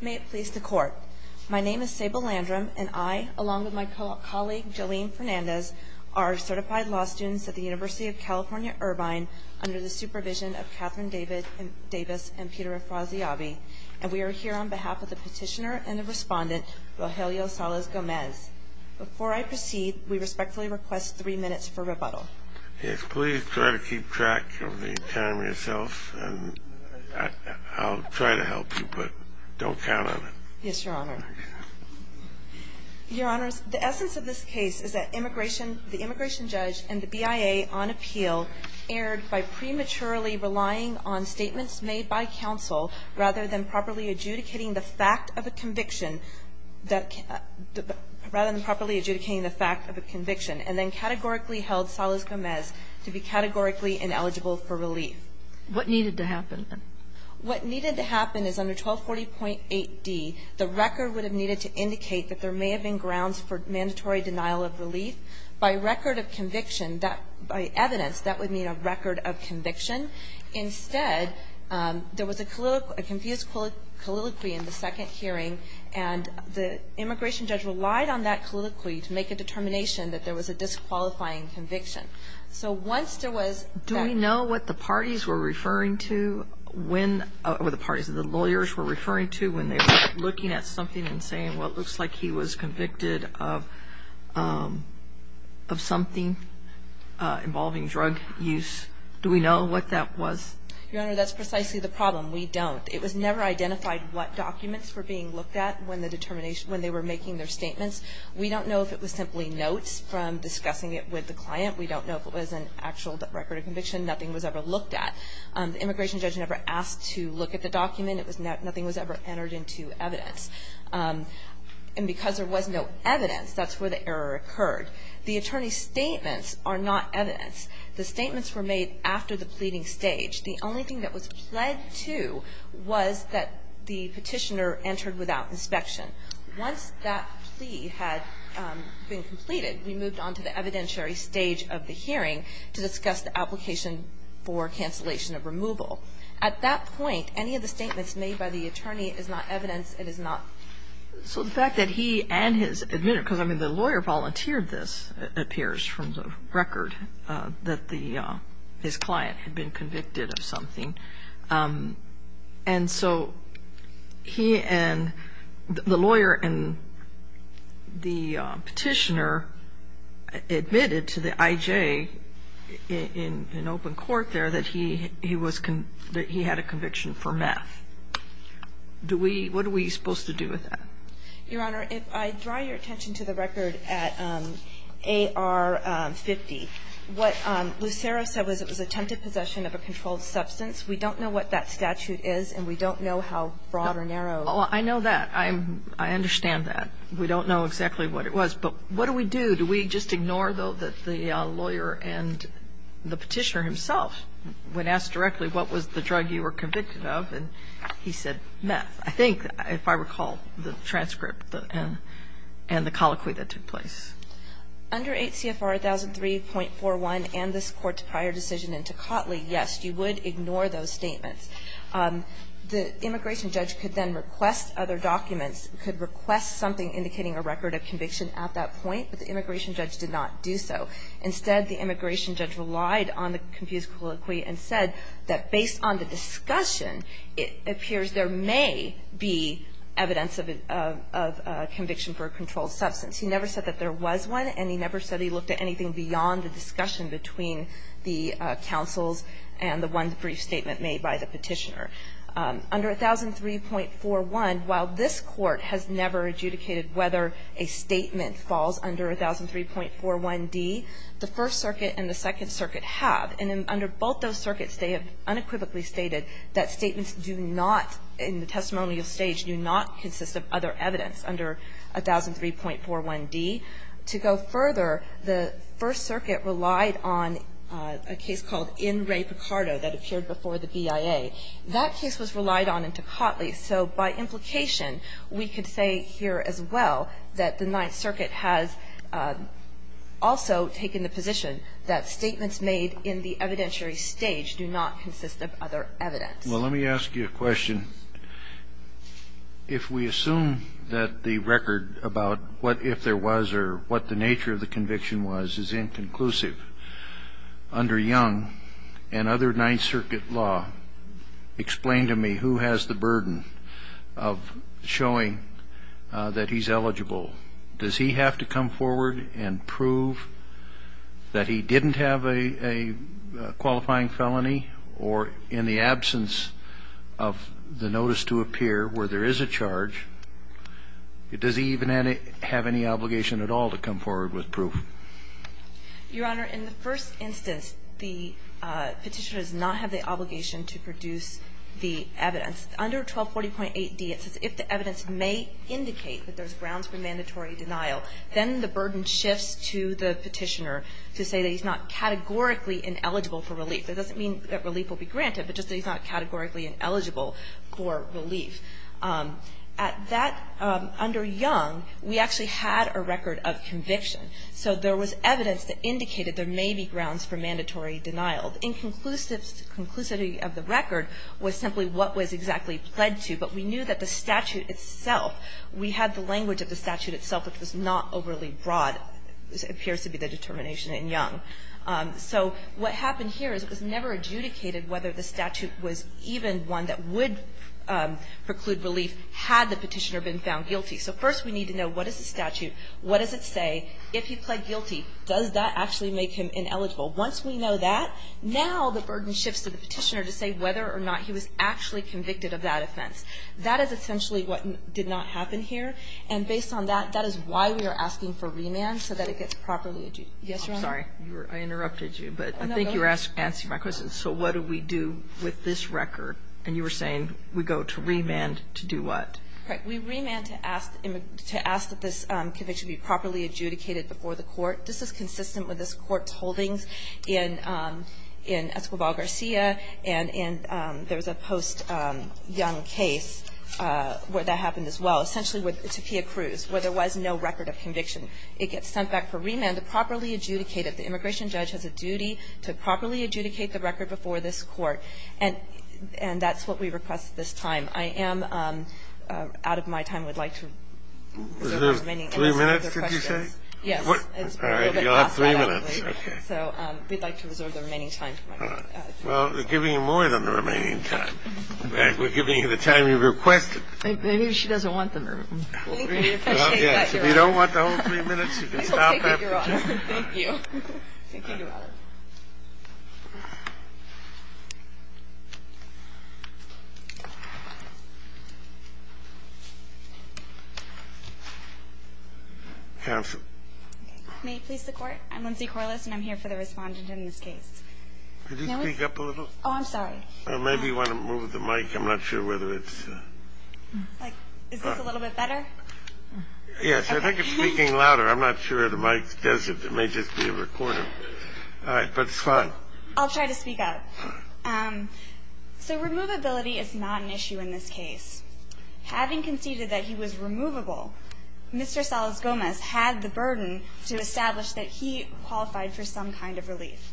May it please the Court, my name is Sable Landrum, and I, along with my colleague Jolene Fernandez, are certified law students at the University of California, Irvine, under the supervision of Catherine Davis and Peter Afrasiabi. And we are here on behalf of the petitioner and the respondent, Rogelio Salas-Gomez. Before I proceed, we respectfully request three minutes for rebuttal. Yes, please try to keep track of the time yourself, and I'll try to help you, but don't count on it. Yes, Your Honor. Your Honors, the essence of this case is that the immigration judge and the BIA, on appeal, erred by prematurely relying on statements made by counsel rather than properly adjudicating the fact of a conviction. Rather than properly adjudicating the fact of a conviction, and then categorically held Salas-Gomez to be categorically ineligible for relief. What needed to happen, then? What needed to happen is under 1240.8d, the record would have needed to indicate that there may have been grounds for mandatory denial of relief. By record of conviction, that by evidence, that would mean a record of conviction. Instead, there was a confused colloquy in the second hearing, and the immigration judge relied on that colloquy to make a determination that there was a disqualifying conviction. So once there was that ---- Do we know what the parties were referring to when, or the parties, the lawyers were referring to when they were looking at something and saying, well, it looks like he was convicted of something involving drug use. Do we know what that was? Your Honor, that's precisely the problem. We don't. It was never identified what documents were being looked at when the determination ---- when they were making their statements. We don't know if it was simply notes from discussing it with the client. We don't know if it was an actual record of conviction. Nothing was ever looked at. The immigration judge never asked to look at the document. It was not ---- nothing was ever entered into evidence. And because there was no evidence, that's where the error occurred. The attorney's statements are not evidence. The statements were made after the pleading stage. The only thing that was pled to was that the petitioner entered without inspection. Once that plea had been completed, we moved on to the evidentiary stage of the hearing to discuss the application for cancellation of removal. At that point, any of the statements made by the attorney is not evidence. It is not ---- So the fact that he and his admitted ---- because, I mean, the lawyer volunteered this, it appears from the record, that his client had been convicted of something. And so he and the lawyer and the petitioner admitted to the IJ in open court there that he was ---- that he had a conviction for meth. Do we ---- what are we supposed to do with that? Your Honor, if I draw your attention to the record at AR-50, what Lucero said was it was attempted possession of a controlled substance. We don't know what that statute is, and we don't know how broad or narrow ---- I know that. I understand that. We don't know exactly what it was. But what do we do? Do we just ignore, though, that the lawyer and the petitioner himself, when asked directly, what was the drug you were convicted of, and he said meth. I think, if I recall the transcript and the colloquy that took place. Under 8 CFR 1003.41 and this Court's prior decision in Tocatli, yes, you would ignore those statements. The immigration judge could then request other documents, could request something indicating a record of conviction at that point, but the immigration judge did not do so. Instead, the immigration judge relied on the confused colloquy and said that based on the discussion, it appears there may be evidence of a conviction for a controlled substance. He never said that there was one, and he never said he looked at anything beyond the discussion between the counsels and the one brief statement made by the petitioner. Under 1003.41, while this Court has never adjudicated whether a statement falls under 1003.41d, the First Circuit and the Second Circuit have. And under both those circuits, they have unequivocally stated that statements do not, in the testimonial stage, do not consist of other evidence under 1003.41d. To go further, the First Circuit relied on a case called In Re Picardo that appeared before the BIA. That case was relied on in Tocatli, so by implication, we could say here as well that the Ninth Circuit has also taken the position that statements made in the evidentiary stage do not consist of other evidence. Well, let me ask you a question. If we assume that the record about what if there was or what the nature of the conviction was is inconclusive, under Young and other Ninth Circuit law, explain to me who has the burden of showing that he's eligible. Does he have to come forward and prove that he didn't have a qualifying felony or in the absence of the notice to appear where there is a charge, does he even have any obligation at all to come forward with proof? Your Honor, in the first instance, the Petitioner does not have the obligation to produce the evidence. Under 1240.8d, it says if the evidence may indicate that there's grounds for mandatory denial, then the burden shifts to the Petitioner to say that he's not categorically ineligible for relief. It doesn't mean that relief will be granted, but just that he's not categorically ineligible for relief. At that, under Young, we actually had a record of conviction. So there was evidence that indicated there may be grounds for mandatory denial. The inconclusivity of the record was simply what was exactly pledged to. But we knew that the statute itself, we had the language of the statute itself, which was not overly broad. This appears to be the determination in Young. So what happened here is it was never adjudicated whether the statute was even one that would preclude relief had the Petitioner been found guilty. So first we need to know what is the statute? What does it say? If he pled guilty, does that actually make him ineligible? Once we know that, now the burden shifts to the Petitioner to say whether or not he was actually convicted of that offense. That is essentially what did not happen here. And based on that, that is why we are asking for remand, so that it gets properly adjudicated. Yes, Your Honor? Kagan. I'm sorry. I interrupted you, but I think you're answering my question. So what do we do with this record? And you were saying we go to remand to do what? Right. We remand to ask that this conviction be properly adjudicated before the court. This is consistent with this Court's holdings in Escobar-Garcia, and there was a post-Young case where that happened as well, essentially with Topia Cruz, where there was no record of conviction. It gets sent back for remand to properly adjudicate it. The immigration judge has a duty to properly adjudicate the record before this Court. And that's what we request at this time. I am out of my time. I would like to reserve the remaining time. Three minutes, did you say? Yes. All right. You'll have three minutes. So we'd like to reserve the remaining time. All right. Well, we're giving you more than the remaining time. We're giving you the time you requested. Maybe she doesn't want the remaining time. Thank you. We appreciate that, Your Honor. If you don't want the whole three minutes, you can stop after just a moment. Thank you. Thank you, Your Honor. Counsel. May it please the Court? I'm Lindsay Corliss, and I'm here for the Respondent in this case. Could you speak up a little? Oh, I'm sorry. Maybe you want to move the mic. I'm not sure whether it's... Is this a little bit better? Yes. I think it's speaking louder. I'm not sure the mic does it. It may just be a recorder. All right. But it's fine. I'll try to speak up. So removability is not an issue in this case. Having conceded that he was removable, Mr. Salas-Gomez had the burden to establish that he qualified for some kind of relief.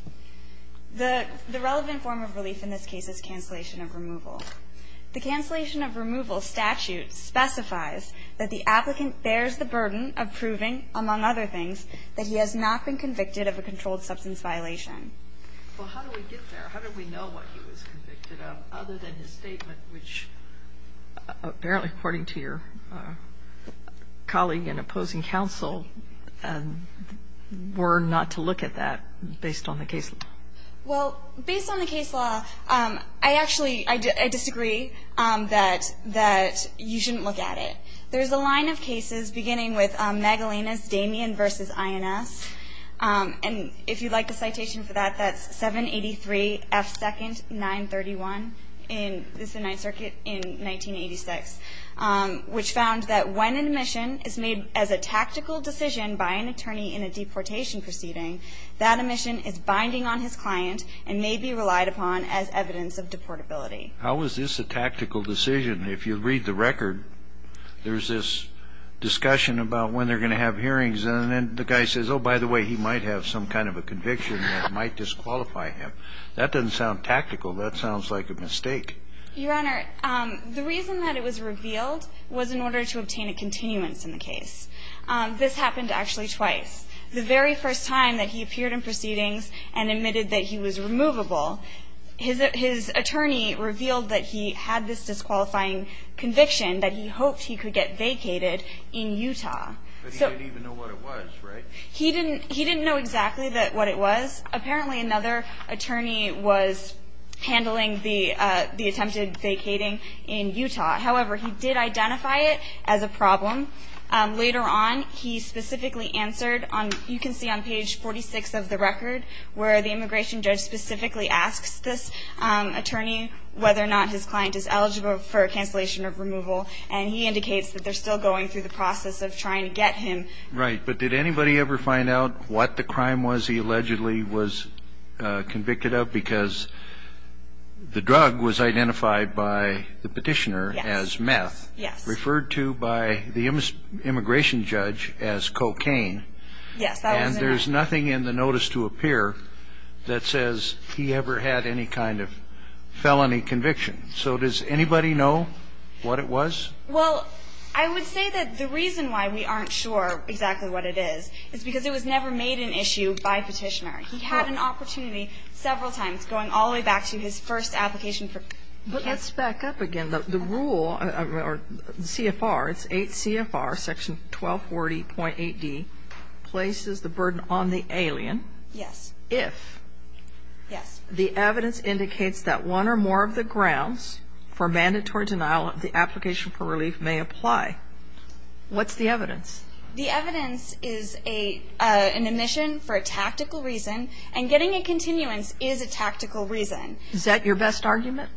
The relevant form of relief in this case is cancellation of removal. The cancellation of removal statute specifies that the applicant bears the burden of proving, among other things, that he has not been convicted of a controlled substance violation. Well, how do we get there? How do we know what he was convicted of other than his statement, which apparently, according to your colleague and opposing counsel, were not to look at that based on the case law? Well, based on the case law, I actually disagree that you shouldn't look at it. There's a line of cases beginning with Magalena's Damien v. INS. And if you'd like a citation for that, that's 783 F. 2nd, 931. This is the Ninth Circuit in 1986, which found that when an admission is made as a tactical decision by an attorney in a deportation proceeding, that admission is binding on his client and may be relied upon as evidence of deportability. How is this a tactical decision? If you read the record, there's this discussion about when they're going to have hearings, and then the guy says, oh, by the way, he might have some kind of a conviction that might disqualify him. That doesn't sound tactical. That sounds like a mistake. Your Honor, the reason that it was revealed was in order to obtain a continuance in the case. This happened actually twice. The very first time that he appeared in proceedings and admitted that he was removable, his attorney revealed that he had this disqualifying conviction, that he hoped he could get vacated in Utah. But he didn't even know what it was, right? He didn't know exactly what it was. Apparently, another attorney was handling the attempted vacating in Utah. However, he did identify it as a problem. Later on, he specifically answered. You can see on page 46 of the record where the immigration judge specifically asks this attorney whether or not his client is eligible for a cancellation of removal, and he indicates that they're still going through the process of trying to get him. Right. But did anybody ever find out what the crime was he allegedly was convicted of? Because the drug was identified by the petitioner as meth, referred to by the immigration judge as cocaine. Yes. And there's nothing in the notice to appear that says he ever had any kind of felony conviction. So does anybody know what it was? Well, I would say that the reason why we aren't sure exactly what it is is because it was never made an issue by petitioner. He had an opportunity several times going all the way back to his first application. Let's back up again. The rule, CFR, it's 8 CFR, section 1240.8D, places the burden on the alien if the evidence indicates that one or more of the grounds for mandatory denial of the application for relief may apply. What's the evidence? The evidence is an admission for a tactical reason, and getting a continuance is a tactical reason. Is that your best argument?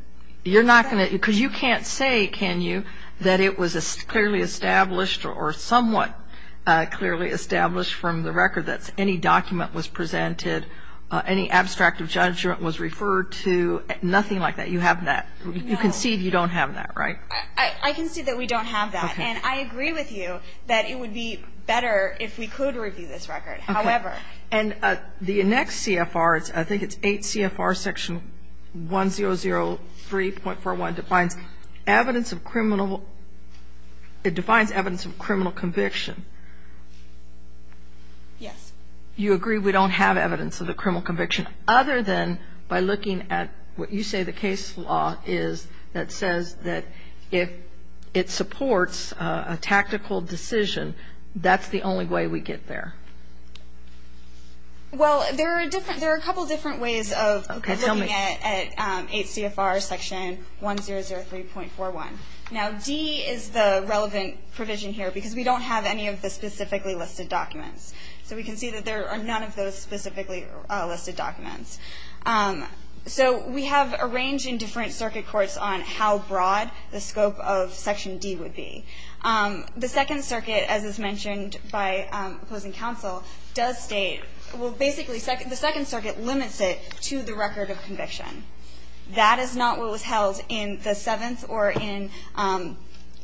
Because you can't say, can you, that it was clearly established or somewhat clearly established from the record that any document was presented, any abstract of judgment was referred to, nothing like that. You have that. You concede you don't have that, right? I concede that we don't have that. And I agree with you that it would be better if we could review this record. Okay. And the next CFR, I think it's 8 CFR, section 1003.41, defines evidence of criminal – it defines evidence of criminal conviction. Yes. You agree we don't have evidence of a criminal conviction, other than by looking at what you say the case law is that says that if it supports a tactical decision, that's the only way we get there. Well, there are a couple different ways of looking at 8 CFR section 1003.41. Now, D is the relevant provision here because we don't have any of the specifically listed documents. So we can see that there are none of those specifically listed documents. So we have a range in different circuit courts on how broad the scope of section D would be. The Second Circuit, as is mentioned by opposing counsel, does state – well, basically, the Second Circuit limits it to the record of conviction. That is not what was held in the Seventh or in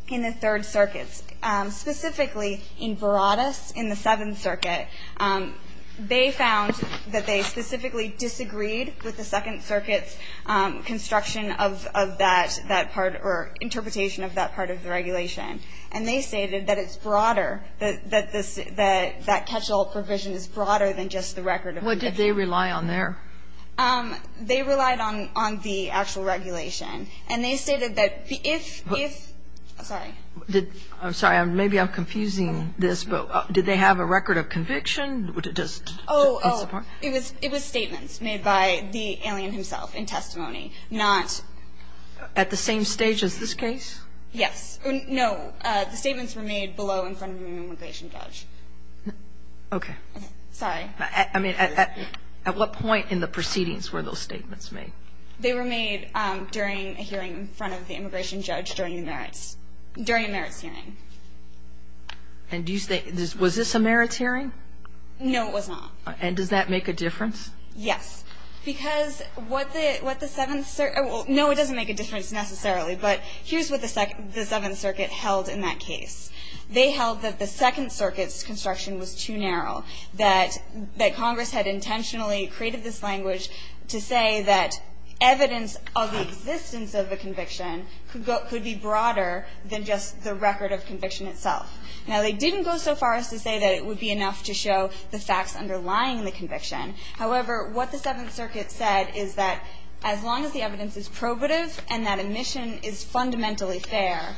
the Third Circuits. Specifically in Verrattis, in the Seventh Circuit, they found that they specifically disagreed with the Second Circuit's construction of that part or interpretation of that part of the regulation. And they stated that it's broader, that that catch-all provision is broader than just the record of conviction. What did they rely on there? They relied on the actual regulation. And they stated that if – sorry. I'm sorry. Maybe I'm confusing this. But did they have a record of conviction? Oh, it was statements made by the alien himself in testimony, not – At the same stage as this case? Yes. No. The statements were made below in front of an immigration judge. Okay. Sorry. I mean, at what point in the proceedings were those statements made? They were made during a hearing in front of the immigration judge during the merits, during a merits hearing. And do you think – was this a merits hearing? No, it was not. And does that make a difference? Yes. Because what the Seventh – well, no, it doesn't make a difference necessarily. But here's what the Seventh Circuit held in that case. They held that the Second Circuit's construction was too narrow, that Congress had intentionally created this language to say that evidence of the existence of a conviction could be broader than just the record of conviction itself. Now, they didn't go so far as to say that it would be enough to show the facts underlying the conviction. However, what the Seventh Circuit said is that as long as the evidence is probative and that admission is fundamentally fair,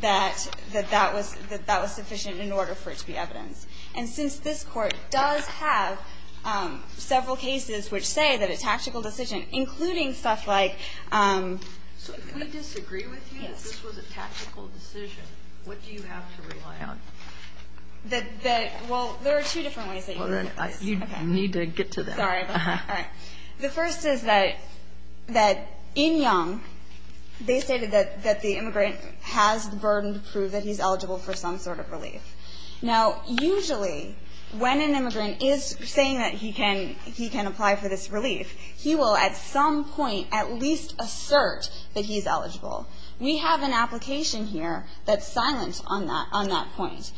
that that was – that that was sufficient in order for it to be evidence. And since this Court does have several cases which say that a tactical decision, including stuff like – So if we disagree with you that this was a tactical decision, what do you have to rely on? That – well, there are two different ways that you can say this. Well, then you need to get to them. Sorry. All right. The first is that – that in Young, they stated that – that the immigrant has the burden to prove that he's eligible for some sort of relief. Now, usually when an immigrant is saying that he can – he can apply for this relief, he will at some point at least assert that he's eligible. We have an application here that's silent on that – on that point.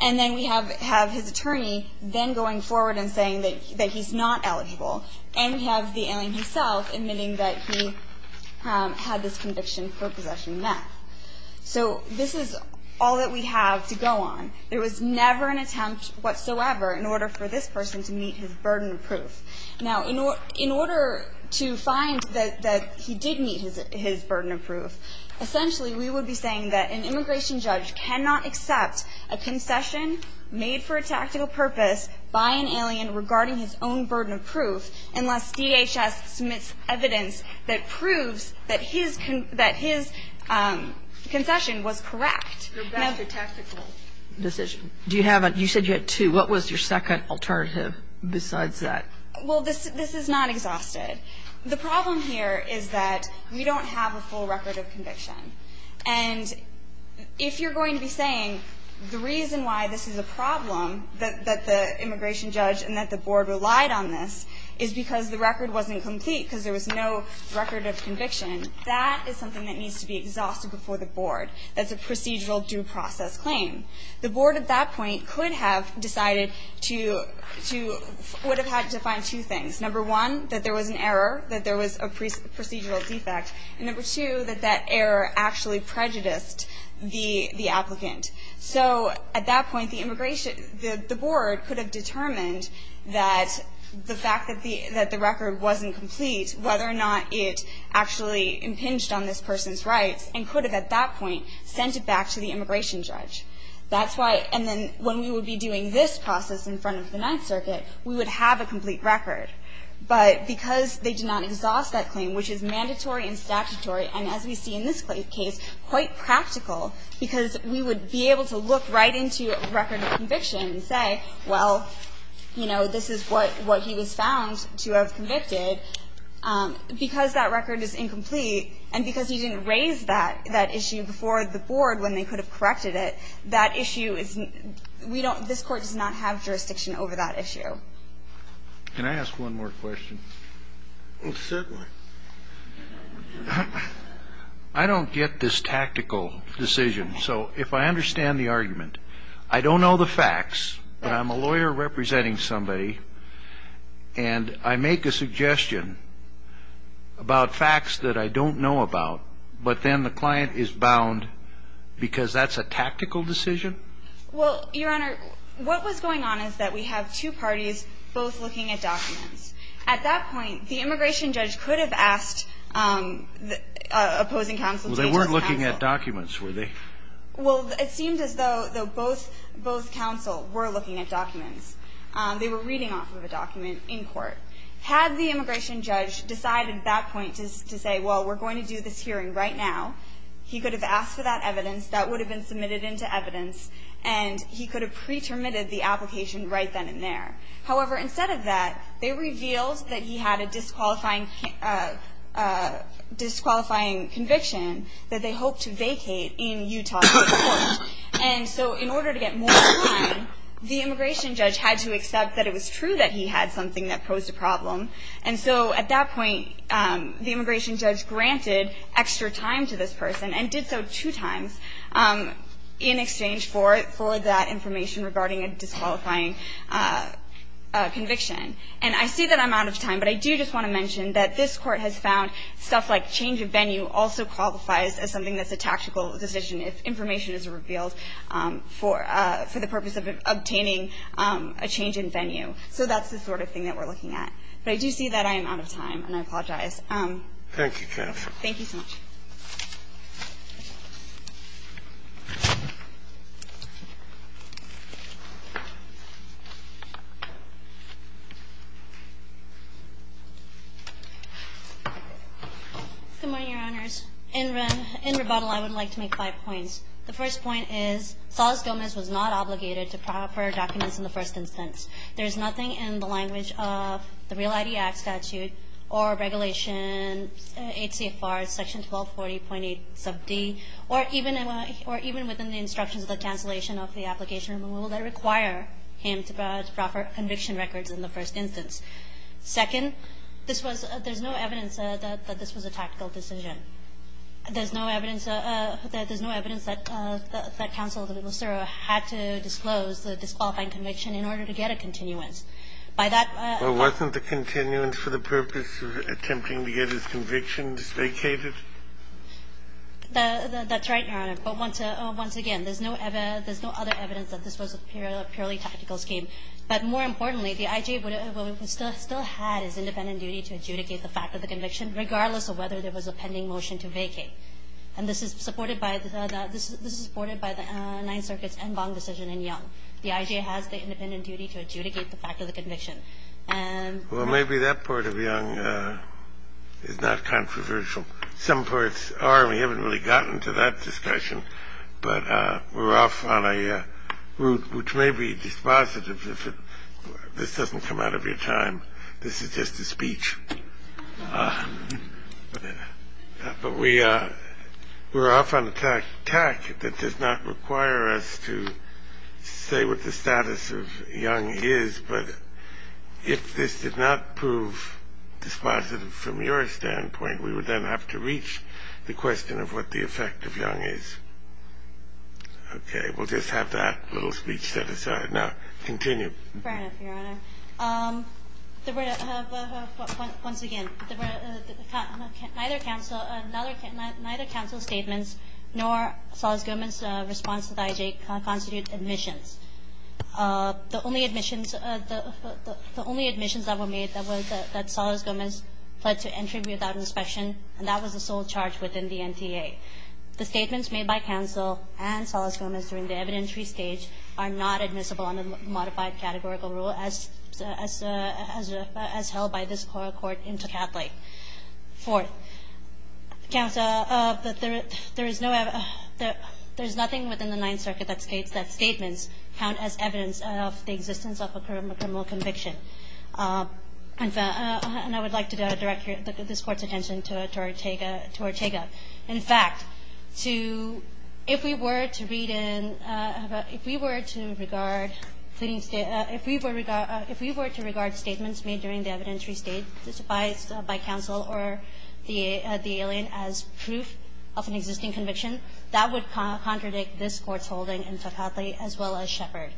And then we have – have his attorney then going forward and saying that he's not eligible. And we have the alien himself admitting that he had this conviction for possession of meth. So this is all that we have to go on. There was never an attempt whatsoever in order for this person to meet his burden of proof. Now, in order – in order to find that he did meet his burden of proof, essentially we would be saying that an immigration judge cannot accept a concession made for a DHS submits evidence that proves that his – that his concession was correct. That's a tactical decision. Do you have a – you said you had two. What was your second alternative besides that? Well, this – this is not exhausted. The problem here is that we don't have a full record of conviction. And if you're going to be saying the reason why this is a problem, that – that the record wasn't complete because there was no record of conviction, that is something that needs to be exhausted before the board. That's a procedural due process claim. The board at that point could have decided to – to – would have had to find two things. Number one, that there was an error, that there was a procedural defect. And number two, that that error actually prejudiced the – the applicant. So at that point, the immigration – the board could have determined that the fact that the – that the record wasn't complete, whether or not it actually impinged on this person's rights, and could have at that point sent it back to the immigration judge. That's why – and then when we would be doing this process in front of the Ninth Circuit, we would have a complete record. But because they did not exhaust that claim, which is mandatory and statutory, and as we see in this case, quite practical, because we would be able to look right into a record of conviction and say, well, you know, this is what – what he was found to have convicted, because that record is incomplete and because he didn't raise that – that issue before the board when they could have corrected it, that issue is – we don't – this Court does not have jurisdiction over that issue. Can I ask one more question? Certainly. I don't get this tactical decision. So if I understand the argument, I don't know the facts, but I'm a lawyer representing somebody, and I make a suggestion about facts that I don't know about, but then the client is bound because that's a tactical decision? Well, Your Honor, what was going on is that we have two parties both looking at documents. At that point, the immigration judge could have asked the opposing counsel to reach the counsel. Well, they weren't looking at documents, were they? Well, it seemed as though both counsel were looking at documents. They were reading off of a document in court. Had the immigration judge decided at that point to say, well, we're going to do this hearing right now, he could have asked for that evidence. That would have been submitted into evidence, and he could have pre-terminated the application right then and there. However, instead of that, they revealed that he had a disqualifying conviction that they hoped to vacate in Utah at that point. And so in order to get more time, the immigration judge had to accept that it was true that he had something that posed a problem. And so at that point, the immigration judge granted extra time to this person and did so two times in exchange for that information regarding a disqualifying conviction. And I say that I'm out of time, but I do just want to mention that this Court has found stuff like change of venue also qualifies as something that's a tactical decision if information is revealed for the purpose of obtaining a change in venue. So that's the sort of thing that we're looking at. But I do see that I am out of time, and I apologize. Thank you, Jennifer. Thank you so much. Good morning, Your Honors. In rebuttal, I would like to make five points. The first point is Solis-Gomez was not obligated to proper documents in the first instance. There is nothing in the language of the Real ID Act statute or Regulation 8 CFR section 1240.8 sub D or even within the instructions of the cancellation of the application removal that require him to provide proper conviction records in the first instance. Second, this was no evidence that this was a tactical decision. There's no evidence that counsel had to disclose the disqualifying conviction in order to get a continuance. By that ---- Well, wasn't the continuance for the purpose of attempting to get his conviction vacated? That's right, Your Honor. But once again, there's no other evidence that this was a purely tactical scheme. But more importantly, the I.J. still had his independent duty to adjudicate the fact of the conviction, regardless of whether there was a pending motion to vacate. And this is supported by the Ninth Circuit's en banc decision in Young. The I.J. has the independent duty to adjudicate the fact of the conviction. Well, maybe that part of Young is not controversial. Some parts are. We haven't really gotten to that discussion. But we're off on a route which may be dispositive if this doesn't come out of your time. This is just a speech. But we're off on a tack that does not require us to say what the status of Young is. But if this did not prove dispositive from your standpoint, we would then have to reach the question of what the effect of Young is. Okay. We'll just have that little speech set aside. Now, continue. Fair enough, Your Honor. Once again, neither counsel's statements nor Saul's government's response to the I.J. constitute admissions. The only admissions that were made that was that Solis-Gomez pled to entry without inspection, and that was the sole charge within the NTA. The statements made by counsel and Solis-Gomez during the evidentiary stage are not admissible under the modified categorical rule as held by this court in Tocatli. Fourth, counsel, there is nothing within the Ninth Circuit that states that statements count as evidence of the existence of a criminal conviction. And I would like to direct this Court's attention to Ortega. In fact, if we were to regard statements made during the evidentiary stage, by counsel or the alien, as proof of an existing conviction, that would contradict this Court's holding in Tocatli as well as Shepard.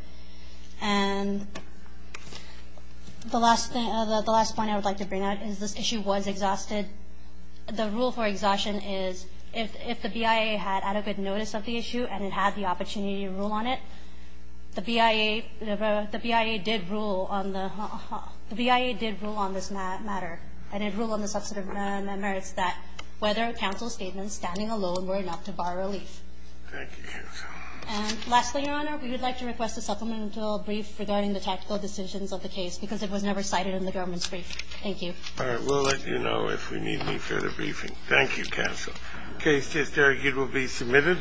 And the last point I would like to bring out is this issue was exhausted. The rule for exhaustion is if the BIA had adequate notice of the issue and it had the opportunity to rule on it, the BIA did rule on this matter, and it ruled on the substantive merits that whether counsel's statements standing alone were enough to bar relief. Thank you, counsel. And lastly, Your Honor, we would like to request a supplemental brief regarding the tactical decisions of the case because it was never cited in the government's brief. Thank you. All right. We'll let you know if we need any further briefing. Thank you, counsel. The case is argued will be submitted.